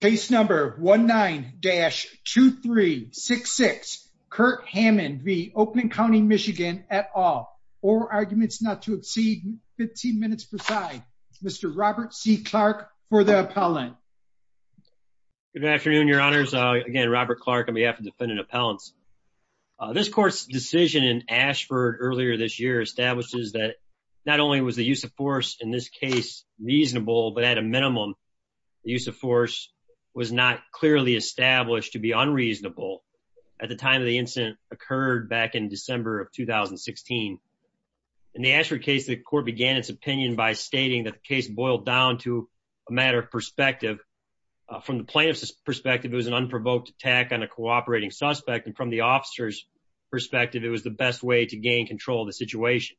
Case number 19-2366, Kurt Hammond v. Oakland County, MI et al. All arguments not to exceed 15 minutes per side. Mr. Robert C. Clark for the appellant. Good afternoon, your honors. Again, Robert Clark on behalf of defendant appellants. This court's decision in Ashford earlier this year establishes that not only was the use of was not clearly established to be unreasonable at the time of the incident occurred back in December of 2016. In the Ashford case, the court began its opinion by stating that the case boiled down to a matter of perspective. From the plaintiff's perspective, it was an unprovoked attack on a cooperating suspect. And from the officer's perspective, it was the best way to gain control of the situation.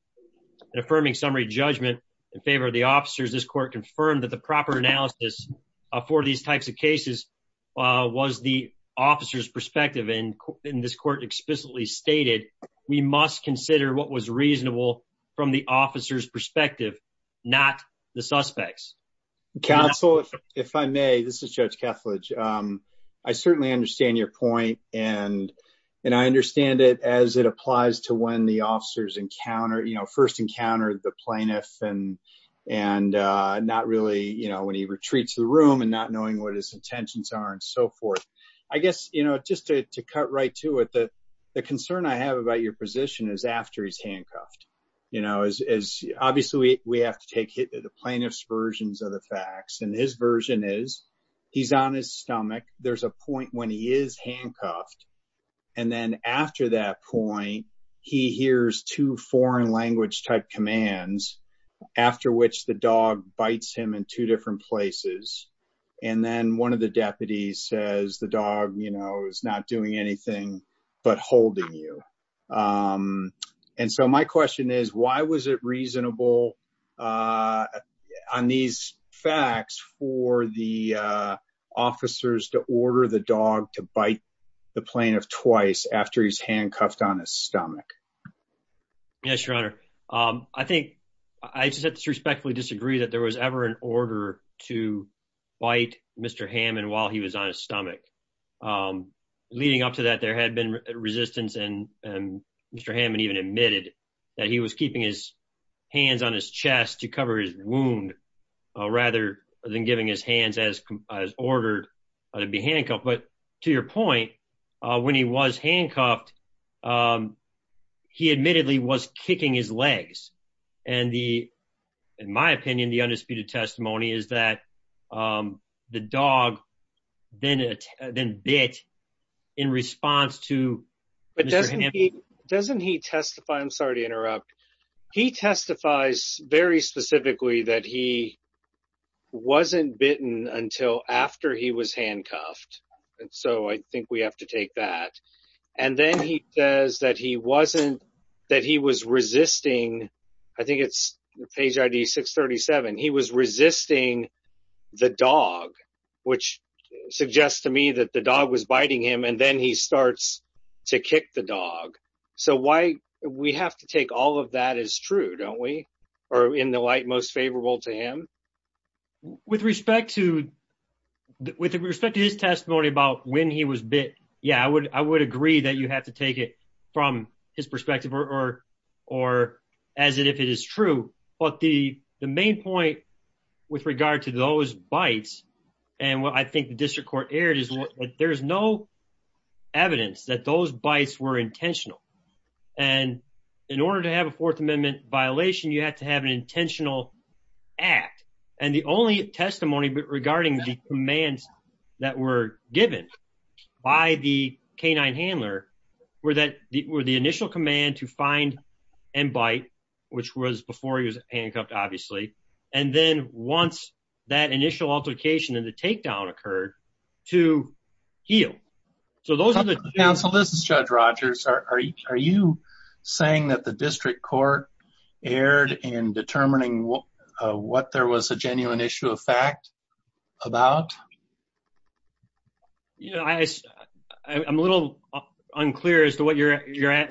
In affirming summary judgment in favor of the officers, this court confirmed that the proper analysis for these types of cases was the officer's perspective. And this court explicitly stated, we must consider what was reasonable from the officer's perspective, not the suspects. Counsel, if I may, this is Judge Kethledge. I certainly understand your point. And I understand it as it applies to when the officers first encounter the plaintiff and not really when he retreats to the room and not knowing what his intentions are and so forth. I guess just to cut right to it, the concern I have about your position is after he's handcuffed. Obviously, we have to take the plaintiff's versions of the facts and his version is he's on his stomach. There's a point when he is handcuffed. And then after that point, he hears two foreign language type commands after which the dog bites him in two different places. And then one of the deputies says the dog is not doing anything but holding you. And so my question is, why was it reasonable on these facts for the officers to order the dog to be handcuffed on his stomach? Yes, Your Honor. I just have to respectfully disagree that there was ever an order to bite Mr. Hammond while he was on his stomach. Leading up to that, there had been resistance and Mr. Hammond even admitted that he was keeping his hands on his chest to cover his wound rather than giving his hands as ordered to be handcuffed. But to your point, when he was handcuffed, he admittedly was kicking his legs. And in my opinion, the undisputed testimony is that the dog then bit in response to Mr. Hammond. But doesn't he testify? I'm sorry to interrupt. He testifies very specifically that he wasn't bitten until after he was handcuffed. And so I think we have to take that. And then he says that he wasn't, that he was resisting. I think it's page ID 637. He was resisting the dog, which suggests to me that the dog was biting him and then he starts to kick the dog. So why we have to take all of that is true, don't we? Or in the light most favorable to him? With respect to his testimony about when he was bit, yeah, I would agree that you have to take it from his perspective or as if it is true. But the main point with regard to those bites and what I think the district court aired is there's no evidence that those bites were intentional. And in order to have a Fourth Amendment violation, you have to have an intentional act. And the only testimony regarding the commands that were given by the canine handler were the initial command to find and bite, which was before he was handcuffed, obviously. And then once that initial altercation and the heel. So those are the- Counsel, this is Judge Rogers. Are you saying that the district court aired in determining what there was a genuine issue of fact about? Yeah, I'm a little unclear as to what you're,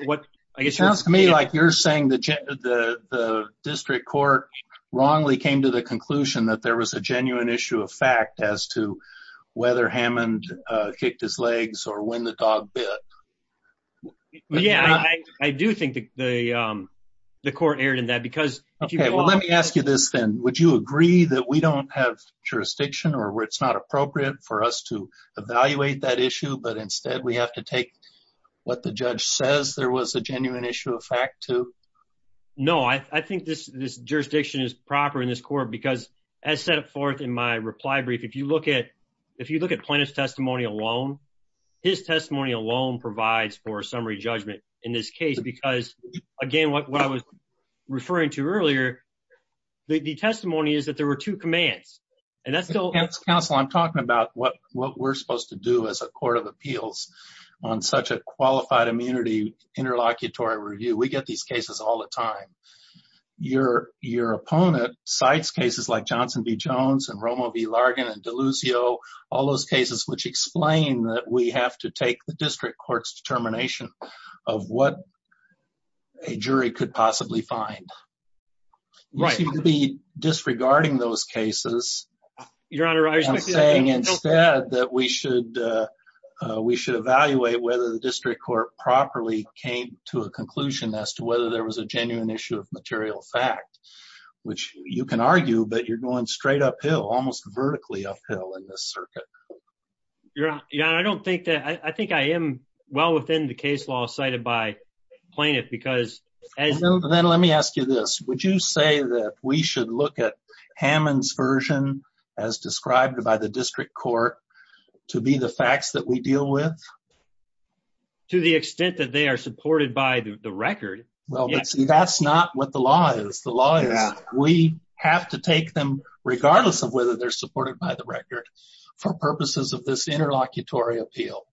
what I guess- Sounds to me like you're saying the district court wrongly came to the conclusion that there was a genuine issue of fact as to whether Hammond kicked his legs or when the dog bit. Yeah, I do think the court aired in that because- Okay, well, let me ask you this then. Would you agree that we don't have jurisdiction or where it's not appropriate for us to evaluate that issue, but instead we have to take what the judge says there was a genuine issue of fact to? No, I think this jurisdiction is proper in this court because as set forth in my reply brief, if you look at plaintiff's testimony alone, his testimony alone provides for summary judgment in this case. Because again, what I was referring to earlier, the testimony is that there were two commands and that's still- Counsel, I'm talking about what we're supposed to do as a court of all the time. Your opponent cites cases like Johnson v. Jones and Romo v. Largan and Delusio, all those cases which explain that we have to take the district court's determination of what a jury could possibly find. You seem to be disregarding those cases- Your Honor, I respect the- And saying instead that we should evaluate whether the district court properly came to a conclusion as to whether there was a genuine issue of material fact, which you can argue, but you're going straight uphill, almost vertically uphill in this circuit. Your Honor, I don't think that- I think I am well within the case law cited by plaintiff because as- Then let me ask you this. Would you say that we should look at Hammond's version as described by the district court to be the To the extent that they are supported by the record- Well, that's not what the law is. The law is we have to take them regardless of whether they're supported by the record for purposes of this interlocutory appeal.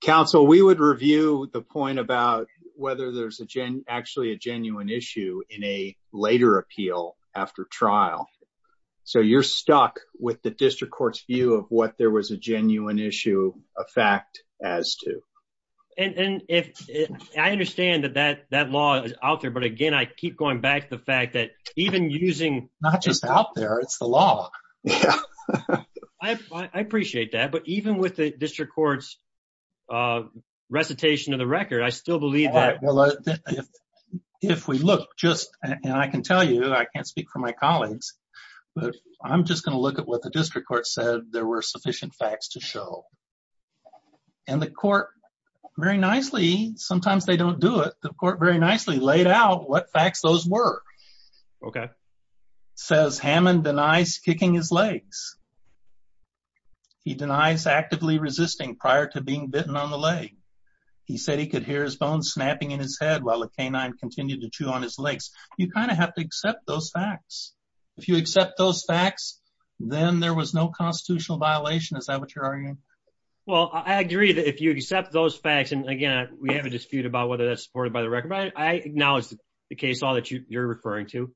Counsel, we would review the point about whether there's actually a genuine issue in a later appeal after trial. So you're stuck with the district court's view of what there was a genuine issue of fact as to- And I understand that that law is out there, but again, I keep going back to the fact that even using- Not just out there, it's the law. Yeah. I appreciate that. But even with the district court's recitation of the record, I still believe that- If we look just, and I can tell you, I can't speak for my colleagues, but I'm just going to look at what the district court said there were sufficient facts to show. And the court very nicely, sometimes they don't do it, the court very nicely laid out what facts those were. Okay. Says Hammond denies kicking his legs. He denies actively resisting prior to being bitten on the leg. He said he could hear his bones snapping in his head while a canine continued to chew on his legs. You kind of have to accept those facts. If you accept those facts, then there was no constitutional violation. Is that what you're arguing? Well, I agree that if you accept those facts, and again, we have a dispute about whether that's supported by the record. I acknowledge the case law that you're referring to.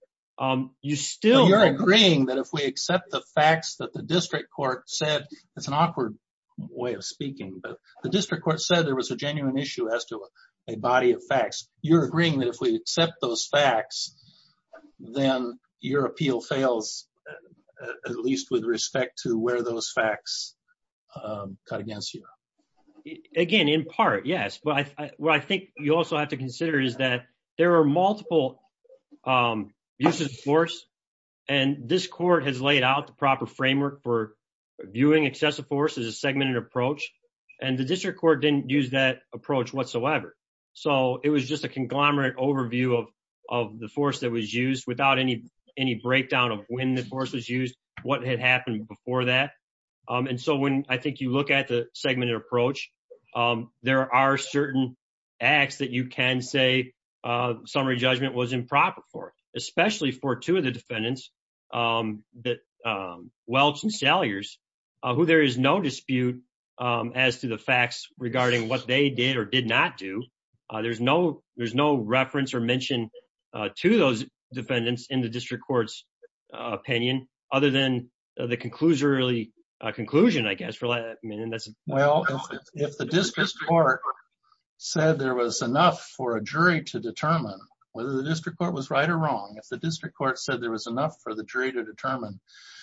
You still- You're agreeing that if we accept the facts that the district court said, it's an awkward way of speaking, but the district court said there was a genuine issue as to a body of facts. You're agreeing that if we accept those facts, then your appeal fails, at least with respect to where those facts cut against you. Again, in part, yes. But what I think you also have to consider is that there are multiple uses of force, and this court has laid out the proper framework for viewing excessive force as a segmented approach. And the district court didn't use that approach whatsoever. So it was just a conglomerate overview of the force that was used without any breakdown of when the force was used, what had happened before that. And so when I think you look at the segmented approach, there are certain acts that you can say summary judgment was improper for, especially for two of the defendants, Welch and Salyers, who there is no dispute as to the facts regarding what they did or did not do. There's no reference or mention to those defendants in the district court's opinion, other than the conclusion, I guess. Well, if the district court said there was enough for a jury to determine whether the district court was right or wrong, if the district court said there was enough for the jury to determine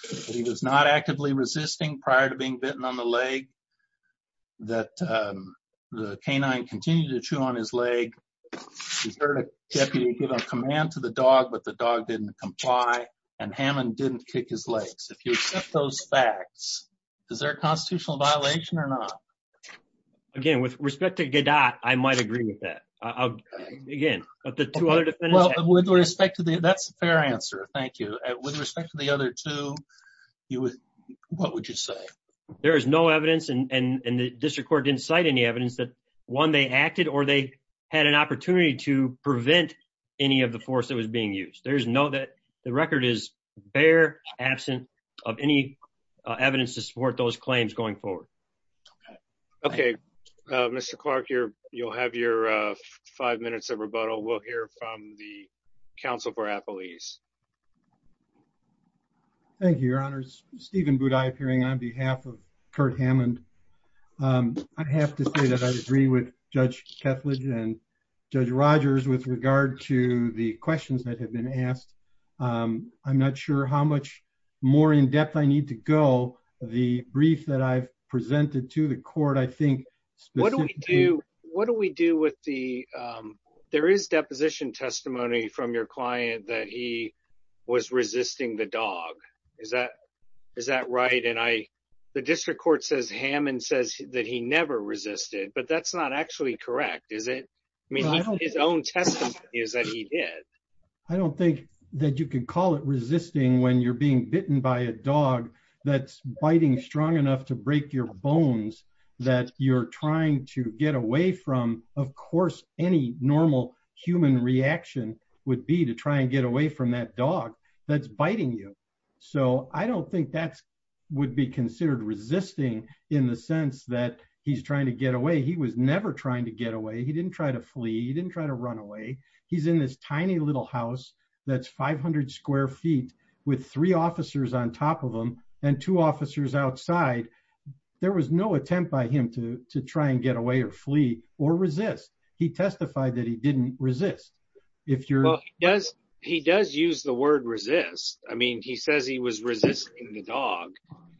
that he was not actively resisting prior to being bitten on the leg, that the canine continued to chew on his leg, he's heard a deputy give a command to the dog, but the dog didn't comply, and Hammond didn't kick his legs. If you accept those facts, is there a constitutional violation or not? Again, with respect to Gadot, I might agree with that. Again, with respect to the other two, what would you say? There is no evidence and the district court didn't cite any evidence that one, they acted or they had an opportunity to prevent any of the force that was being used. The record is bare, absent of any evidence to support those five minutes of rebuttal. We'll hear from the council for a police. Thank you, your honors. Steven Budai appearing on behalf of Kurt Hammond. I have to say that I agree with Judge Kethledge and Judge Rogers with regard to the questions that have been asked. I'm not sure how much more in depth I need to go. The brief that I've presented to the court, what do we do with the, there is deposition testimony from your client that he was resisting the dog. Is that right? The district court says Hammond says that he never resisted, but that's not actually correct, is it? I mean, his own testimony is that he did. I don't think that you can call it resisting when you're being bitten by a dog that's biting strong enough to break your bones that you're trying to get away from. Of course, any normal human reaction would be to try and get away from that dog that's biting you. I don't think that would be considered resisting in the sense that he's trying to get away. He was never trying to get away. He didn't try to flee. He didn't try to run away. He's in this tiny little house that's 500 square feet with three officers on top of him and two officers outside. There was no attempt by him to try and get away or flee or resist. He testified that he didn't resist. Well, he does use the word resist. I mean, he says he was resisting the dog.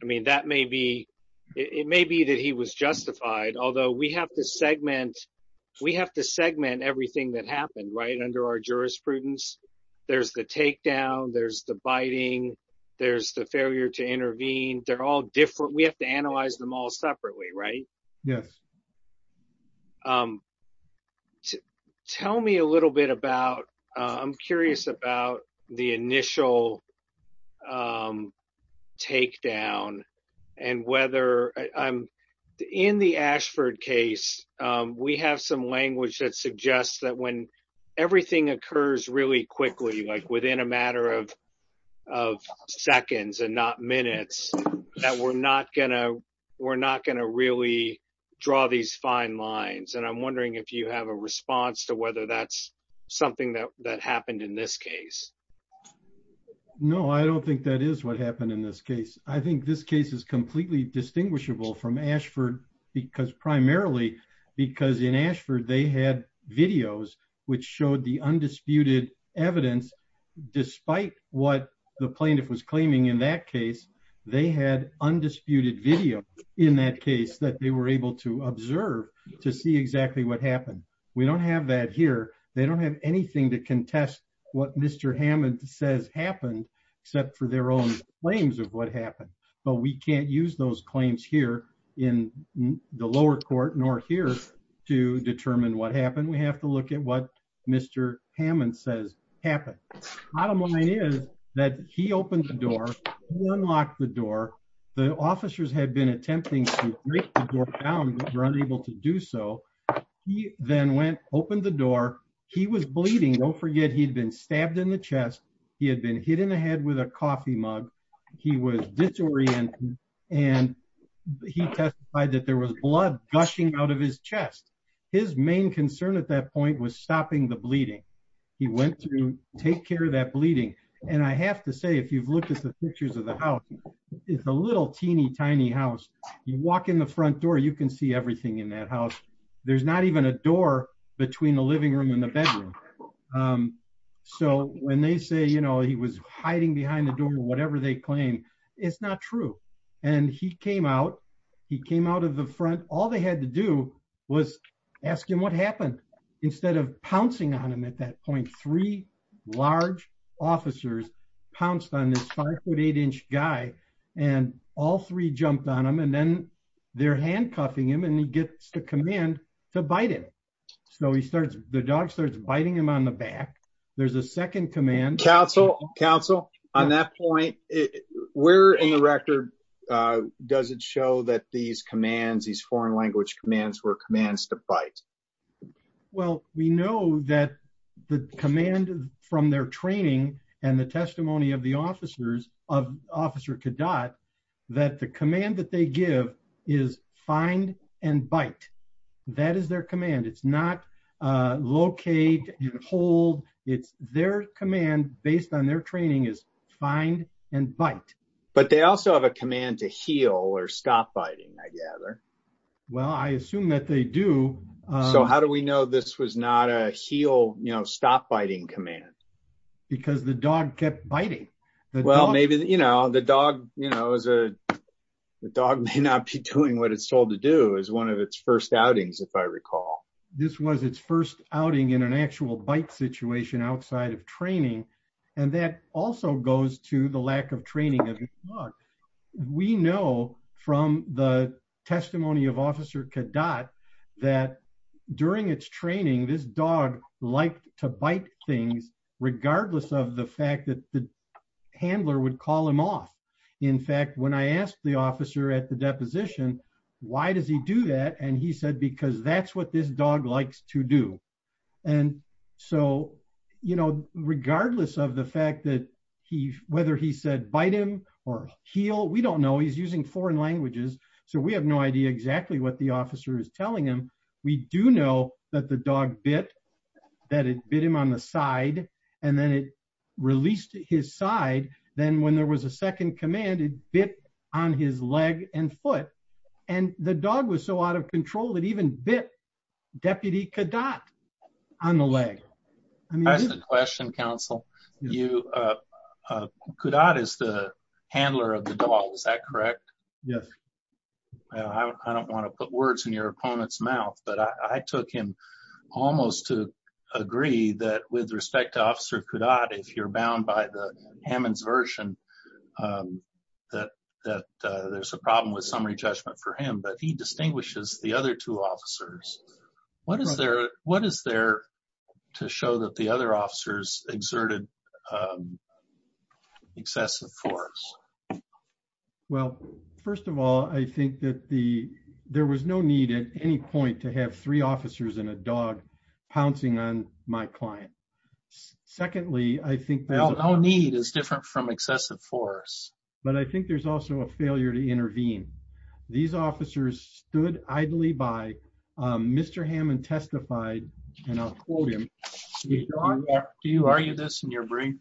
I mean, that may be, it may be that he was justified, although we have to segment everything that happened, right, under our jurisprudence. There's the takedown. There's the biting. There's the failure to intervene. They're all different. We have to analyze them all separately, right? Yes. Tell me a little bit about, I'm curious about the initial takedown and whether, in the Ashford case, we have some language that suggests that when everything occurs really quickly, like within a matter of seconds and not minutes, that we're not gonna really draw these fine lines. And I'm wondering if you have a response to whether that's something that happened in this case. No, I don't think that is what happened in this case. I think this case is completely distinguishable from Ashford because primarily, because in Ashford, they had videos which showed the undisputed evidence, despite what the plaintiff was claiming in that case. They had undisputed video in that case that they were able to observe to see exactly what happened. We don't have that here. They don't have anything to contest what Mr. Hammond says happened, except for their own claims of what happened. But we can't use those claims here in the lower court nor here to determine what happened. We have to look at what Mr. Hammond says happened. Bottom line is that he opened the door, he unlocked the door. The officers had been attempting to break the door down, but were unable to do so. He then went, opened the door. He was bleeding. Don't forget he'd been stabbed in the chest. He had been hit in the head with a coffee mug. He was disoriented and he testified that there was blood gushing out of his chest. His main concern at that point was stopping the bleeding. He went to take care of that bleeding. And I have to say, if you've looked at the pictures of the house, it's a little teeny tiny house. You walk in the front door, you can see everything in that house. There's not even a door between the bedroom and the bedroom. So when they say, you know, he was hiding behind the door or whatever they claim, it's not true. And he came out, he came out of the front. All they had to do was ask him what happened. Instead of pouncing on him at that point, three large officers pounced on this five foot eight inch guy and all three jumped on him. And then they're handcuffing him and he gets the command to bite him. So he starts, the dog starts biting him on the back. There's a second command. Council, on that point, where in the record does it show that these commands, these foreign language commands were commands to bite? Well, we know that the command from their training and the testimony of the officers, of Officer Cadat, that the command that they give is find and bite. That is their command. It's not locate and hold. It's their command based on their training is find and bite. But they also have a command to heal or stop biting, I gather. Well, I assume that they do. So how do we know this was not a heal, you know, stop biting command? Because the dog kept biting. Well, maybe, you know, the dog, you know, is a, the dog may not be doing what it's told to do is one of its first outings, if I recall. This was its first outing in an actual bite situation outside of training. And that also goes to the lack of training of the dog. We know from the testimony of Officer Cadat that during its training, this dog liked to bite things, regardless of the fact that the handler would call him off. In fact, when I asked the officer at the deposition, why does he do that? And he said, because that's what this dog likes to do. And so, you know, regardless of the fact that he, whether he said bite him or heal, we don't know. He's using foreign languages. So we have no idea exactly what the officer is telling him. We do know that the dog bit, that it bit him on the side, and then it released his side. Then when there was a second command, it bit on his leg and foot. And the dog was so out of control that even bit Deputy Cadat on the leg. That's the question, Counsel. Cadat is the handler of the dog, is that correct? Yes. I don't want to put words in your opponent's mouth, but I took him almost to agree that with respect to Officer Cadat, if you're bound by the Hammond's version, that there's a problem with summary judgment for him, but he distinguishes the other two officers. What is their to show that the other officers exerted excessive force? Well, first of all, I think that the, there was no need at any point to have three officers and a dog pouncing on my client. Secondly, I think- Well, no need is different from excessive force. But I think there's also a failure to intervene. These officers stood idly by, Mr. Hammond testified, and I'll quote him. Do you argue this in your brief?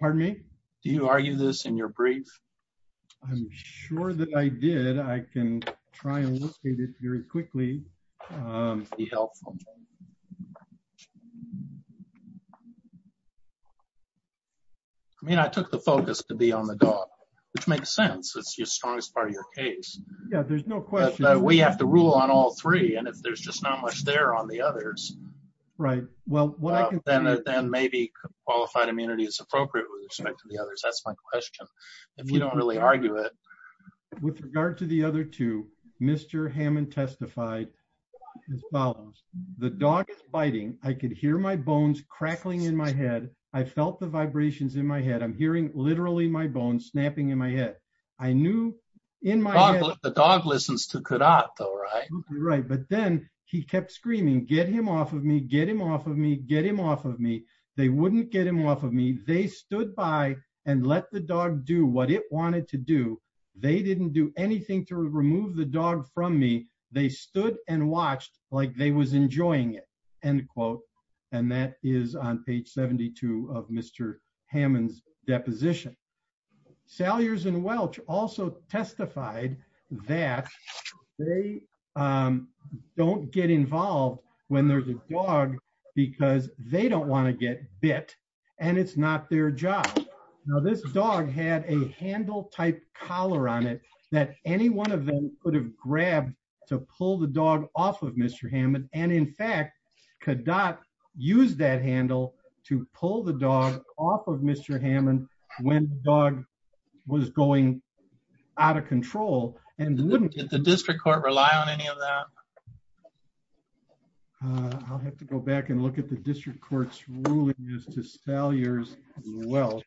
Pardon me? Do you argue this in your brief? I'm sure that I did. I can try and look at it very quickly. Be helpful. I mean, I took the focus to be on the dog, which makes sense. It's the strongest part of your case. Yeah, there's no question. We have to rule on all three. And if there's just not much there on the others. Right. Well, what I can- Then maybe qualified immunity is appropriate with respect to the others. That's my question. If you don't really argue it. With regard to the other two, Mr. Hammond testified as follows. The dog is biting. I could hear my bones crackling in my head. I felt the vibrations in my head. I'm hearing literally my bones snapping in my head. I knew in my head- The dog listens to Cudat though, right? Right. But then he kept screaming, get him off of me, get him off of me, get him off of me. They wouldn't get him off of me. They stood by and let the dog do what it wanted to do. They didn't do anything to remove the dog from me. They stood and watched like they was enjoying it, end quote. And that is on page 72 of Mr. Hammond's deposition. Salyers and Welch also testified that they don't get involved when there's a dog because they don't want to get bit and it's not their job. Now, this dog had a handle type collar on it that any one of them could have grabbed to pull the dog off of Mr. Hammond. And in fact, Cudat used that handle to pull the dog off of Mr. Hammond when the dog was going out of control and wouldn't- Did the district court rely on any of that? I'll have to go back and look at the district court's ruling as to Salyers and Welch.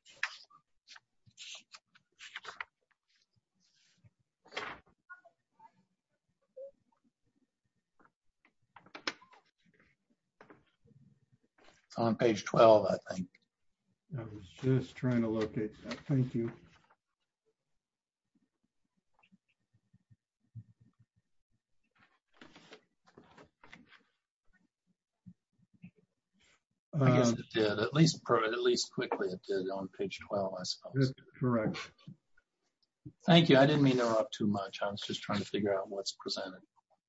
It's on page 12, I think. I was just trying to locate that. Thank you. I guess it did. At least quickly it did on page 12, I suppose. That's correct. Thank you. I didn't mean to interrupt too much. I was just trying to figure out what's presented.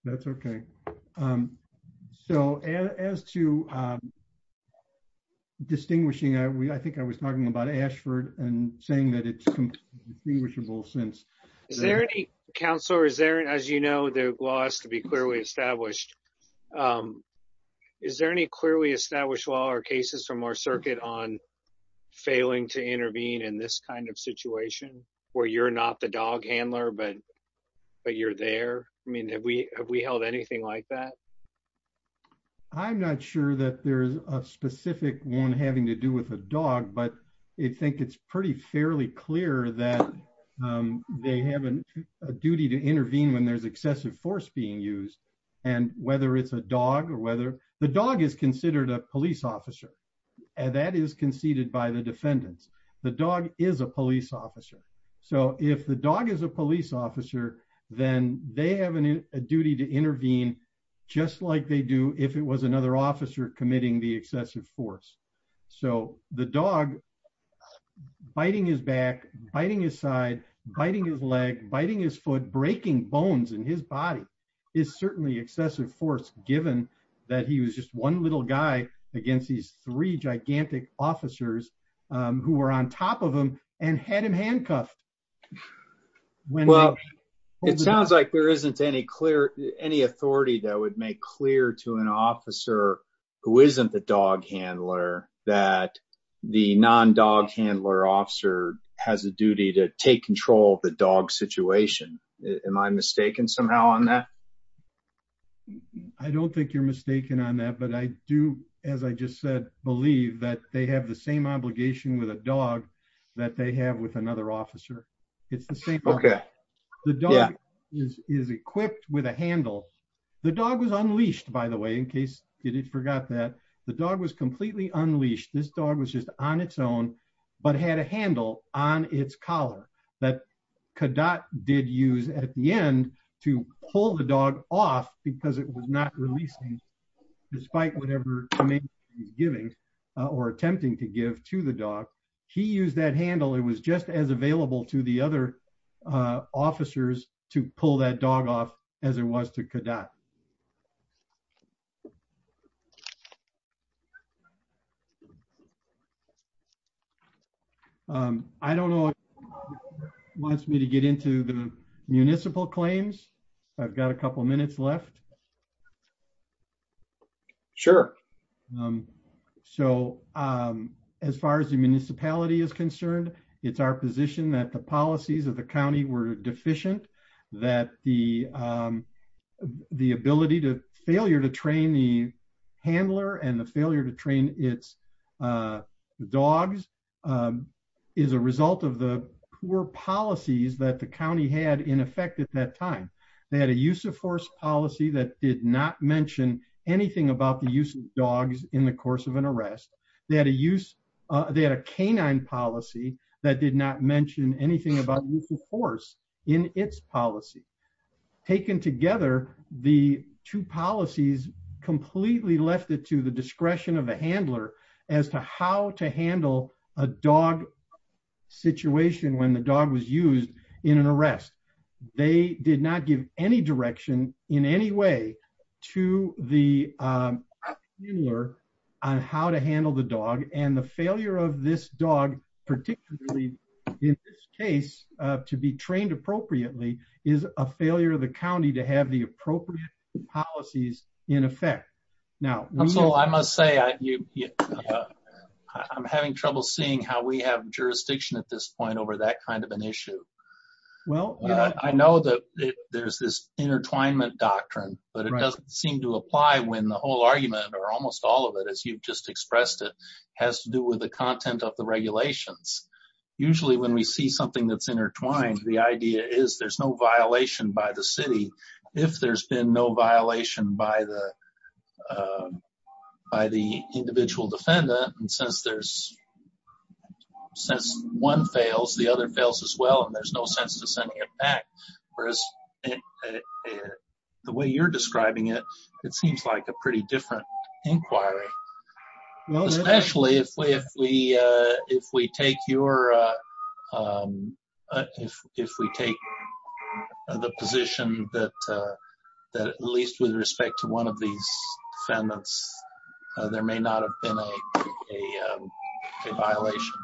That's okay. So as to distinguishing, I think I was talking about Ashford and saying that it's distinguishable since- Is there any, Counselor, as you know, the law has to be clearly established. Is there any clearly established law or cases from our circuit on failing to intervene in this kind of situation where you're not the dog handler, but you're there? Have we held anything like that? I'm not sure that there's a specific one having to do with a dog, but I think it's pretty fairly clear that they have a duty to intervene when there's excessive force being used. And whether it's a dog or whether- The dog is considered a police officer. That is conceded by the defendants. The dog is a police officer. So if the dog is a police officer, then they have a duty to intervene just like they do if it was another officer committing the excessive force. So the dog biting his back, biting his side, biting his leg, biting his foot, breaking bones in his body is certainly excessive force given that he was just one little guy against these three gigantic officers who were on top of him and had him handcuffed. Well, it sounds like there isn't any clear, any authority that would make clear to an officer who isn't the dog handler that the non-dog handler officer has a duty to take control of the dog situation. Am I mistaken somehow on that? I don't think you're mistaken on that, but I do, as I just said, believe that they have the same obligation with a dog that they have with another officer. It's the same. The dog is equipped with a handle. The dog was unleashed, by the way, in case you forgot that. The dog was completely unleashed. This dog was just on its own, but had a handle on its collar that Kadat did use at the end to pull the dog off because it was not releasing despite whatever command he's giving or attempting to give to the dog. He used that handle. It was just as available to the other officers to pull that dog off as it was to Kadat. I don't know if anyone wants me to get into the municipal claims. I've got a couple of minutes left. Sure. As far as the municipality is concerned, it's our position that the policies of the county were deficient, that the ability to failure to train the handler and the failure to train its dogs is a result of the poor policies that the county had in effect at that time. They had a use of force policy that did not mention anything about the use of dogs in the course of an arrest. They had a canine policy that did not mention anything about force in its policy. Taken together, the two policies completely left it to the discretion of a handler as to how to handle a dog situation when the dog was used in an arrest. They did not give any direction in any way to the handler on how to handle the dog and the failure of this dog, particularly in this case, to be trained appropriately is a failure of the county to have the appropriate policies in effect. I must say I'm having trouble seeing how we have jurisdiction at this point over that kind of an issue. Well, I know that there's this intertwinement doctrine, but it doesn't seem to apply when the whole argument, or almost all of it, as you've just expressed it, has to do with the content of the regulations. Usually when we see something that's intertwined, the idea is there's no violation by the city. If there's been no violation by the individual defendant, and since one fails, the other fails as well, there's no sense to sending it back, whereas the way you're describing it, it seems like a pretty different inquiry, especially if we take the position that at least with respect to one of these defendants, there may not have been a violation.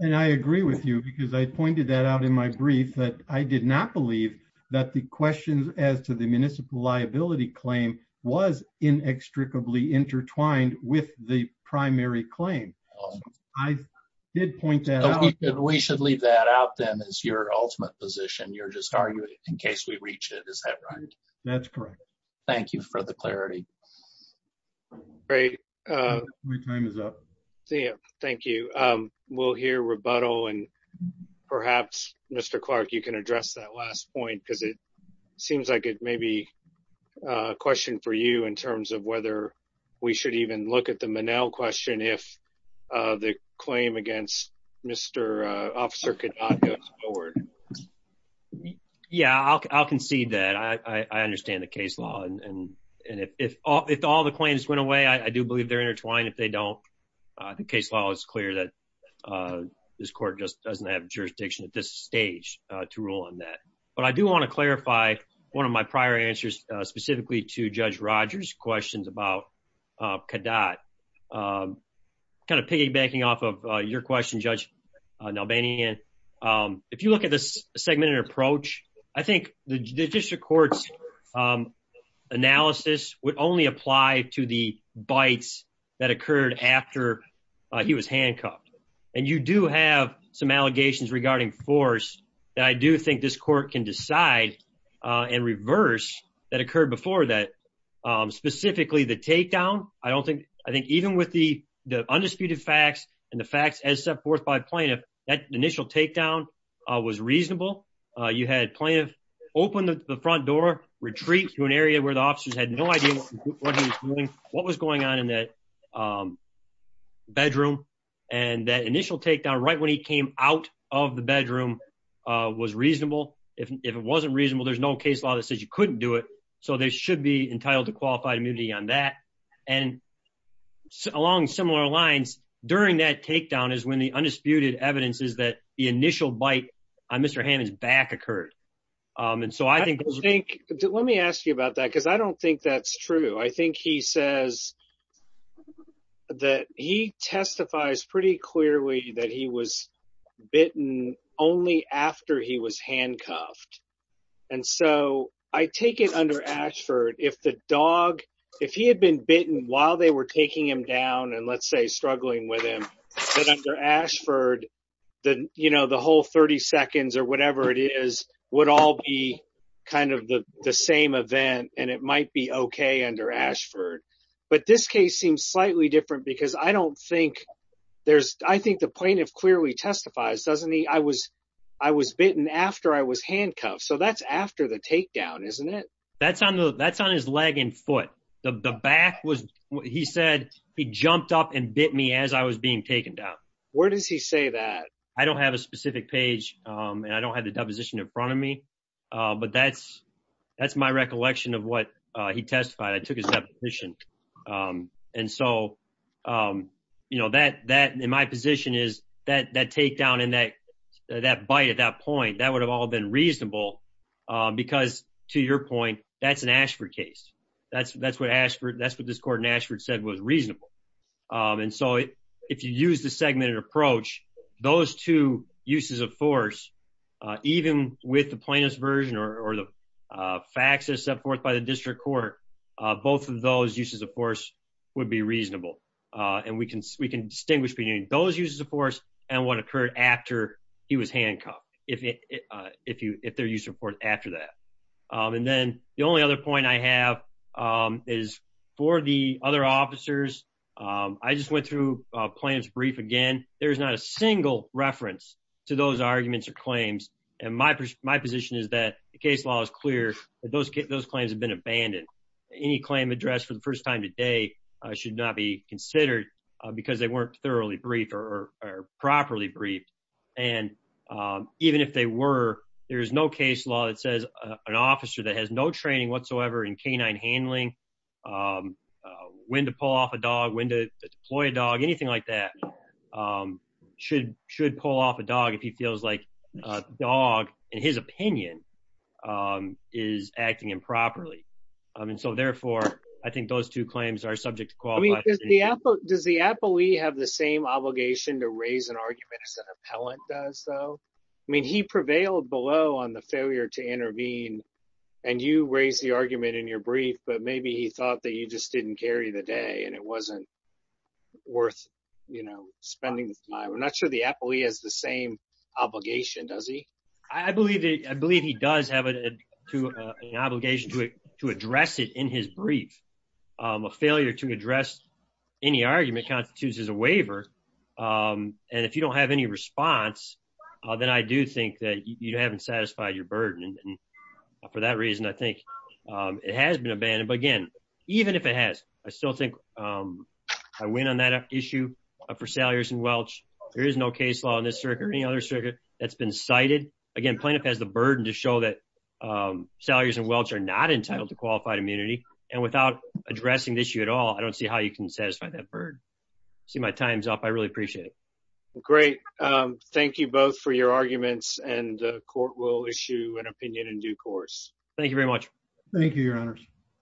And I agree with you because I pointed that out in my brief that I did not believe that the questions as to the municipal liability claim was inextricably intertwined with the primary claim. I did point that out. We should leave that out then as your ultimate position. You're just arguing it in case we reach it. Is that right? That's correct. Thank you for the clarity. Great. My time is up. Thank you. We'll hear rebuttal and perhaps, Mr. Clark, you can address that last point because it seems like it may be a question for you in terms of whether we should even look at the Monell question if the claim against Mr. Officer could not go forward. Yeah, I'll concede that. I understand the case law and if all the claims went away, I do believe they're intertwined. If they don't, the case law is clear that this court just doesn't have jurisdiction at this stage to rule on that. But I do want to clarify one of my prior answers specifically to Judge Rogers' questions about Kadat. Kind of piggybacking off of your question, Judge Nalbanian, if you look at this segmented approach, I think the Judicial Court's analysis would only apply to the bites that occurred after he was handcuffed. And you do have some allegations regarding force that I do think this court can decide and reverse that occurred before that, specifically the takedown. I think even with the undisputed facts and the facts as set forth by plaintiff, that initial takedown was reasonable. You had plaintiff open the front door, retreat to an area where the officers had no idea what he was doing, what was going on in that bedroom. And that initial takedown, right when he came out of the bedroom was reasonable. If it wasn't reasonable, there's no case law that says you couldn't do it. So they should be entitled to qualified immunity on that. And along similar lines during that takedown is when the undisputed evidence is that the initial bite on Mr. Hammond's back occurred. And so I think- I think, let me ask you about that because I don't think that's true. I think he says that he testifies pretty clearly that he was bitten only after he was handcuffed. And so I take it under Ashford, if the dog, if he had been bitten while they were taking him down and let's say struggling with him, but under Ashford, the whole 30 seconds or whatever it is would all be kind of the same event and it might be okay under Ashford. But this case seems slightly different because I don't think there's, I think the plaintiff clearly testifies, doesn't he? I was bitten after I was handcuffed. So that's after the takedown, isn't it? That's on his leg and foot. The back was, he said, he jumped up and bit me as I was being taken down. Where does he say that? I don't have a specific page and I don't have the deposition in front of me, but that's my recollection of what he testified. I took his deposition. And so that in my position is that takedown and that bite at that point, that would have all been reasonable because to your point, that's an Ashford case. That's what this court in Ashford said was reasonable. And so if you use the segmented approach, those two uses of force, even with the plaintiff's version or the facts that are set forth by the district court, both of those uses of force would be reasonable. And we can distinguish between those uses of force and what occurred after he was handcuffed, if there's use of force after that. And then the only other point I have is for the other officers, I just went through plaintiff's brief again. There's not a single reference to those arguments or claims. And my position is that the case law is clear that those claims have been abandoned. Any claim addressed for the first time today should not be considered because they weren't thoroughly briefed or properly briefed. And even if they were, there's no case law that says an officer that has no training whatsoever in canine handling, when to pull off a dog, when to deploy a dog, anything like that. Should pull off a dog if he feels like a dog, in his opinion, is acting improperly. And so therefore, I think those two claims are subject to qualify. I mean, does the appellee have the same obligation to raise an argument as an appellant does though? I mean, he prevailed below on the failure to intervene and you raise the argument in your brief, but maybe he thought that you just didn't carry the day and it wasn't worth spending the time. I'm not sure the appellee has the same obligation, does he? I believe he does have an obligation to address it in his brief. A failure to address any argument constitutes as a waiver. And if you don't have any response, then I do think that you haven't satisfied your burden. And for that reason, I think it has been abandoned. But again, even if it has, I still think I win on that issue for Salyers and Welch. There is no case law in this circuit or any other circuit that's been cited. Again, plaintiff has the burden to show that Salyers and Welch are not entitled to qualified immunity. And without addressing the issue at all, I don't see how you can satisfy that burden. See my time's up. I really appreciate it. Well, great. Thank you both for your arguments and the court will issue an opinion in due course. Thank you very much. Thank you, your honors.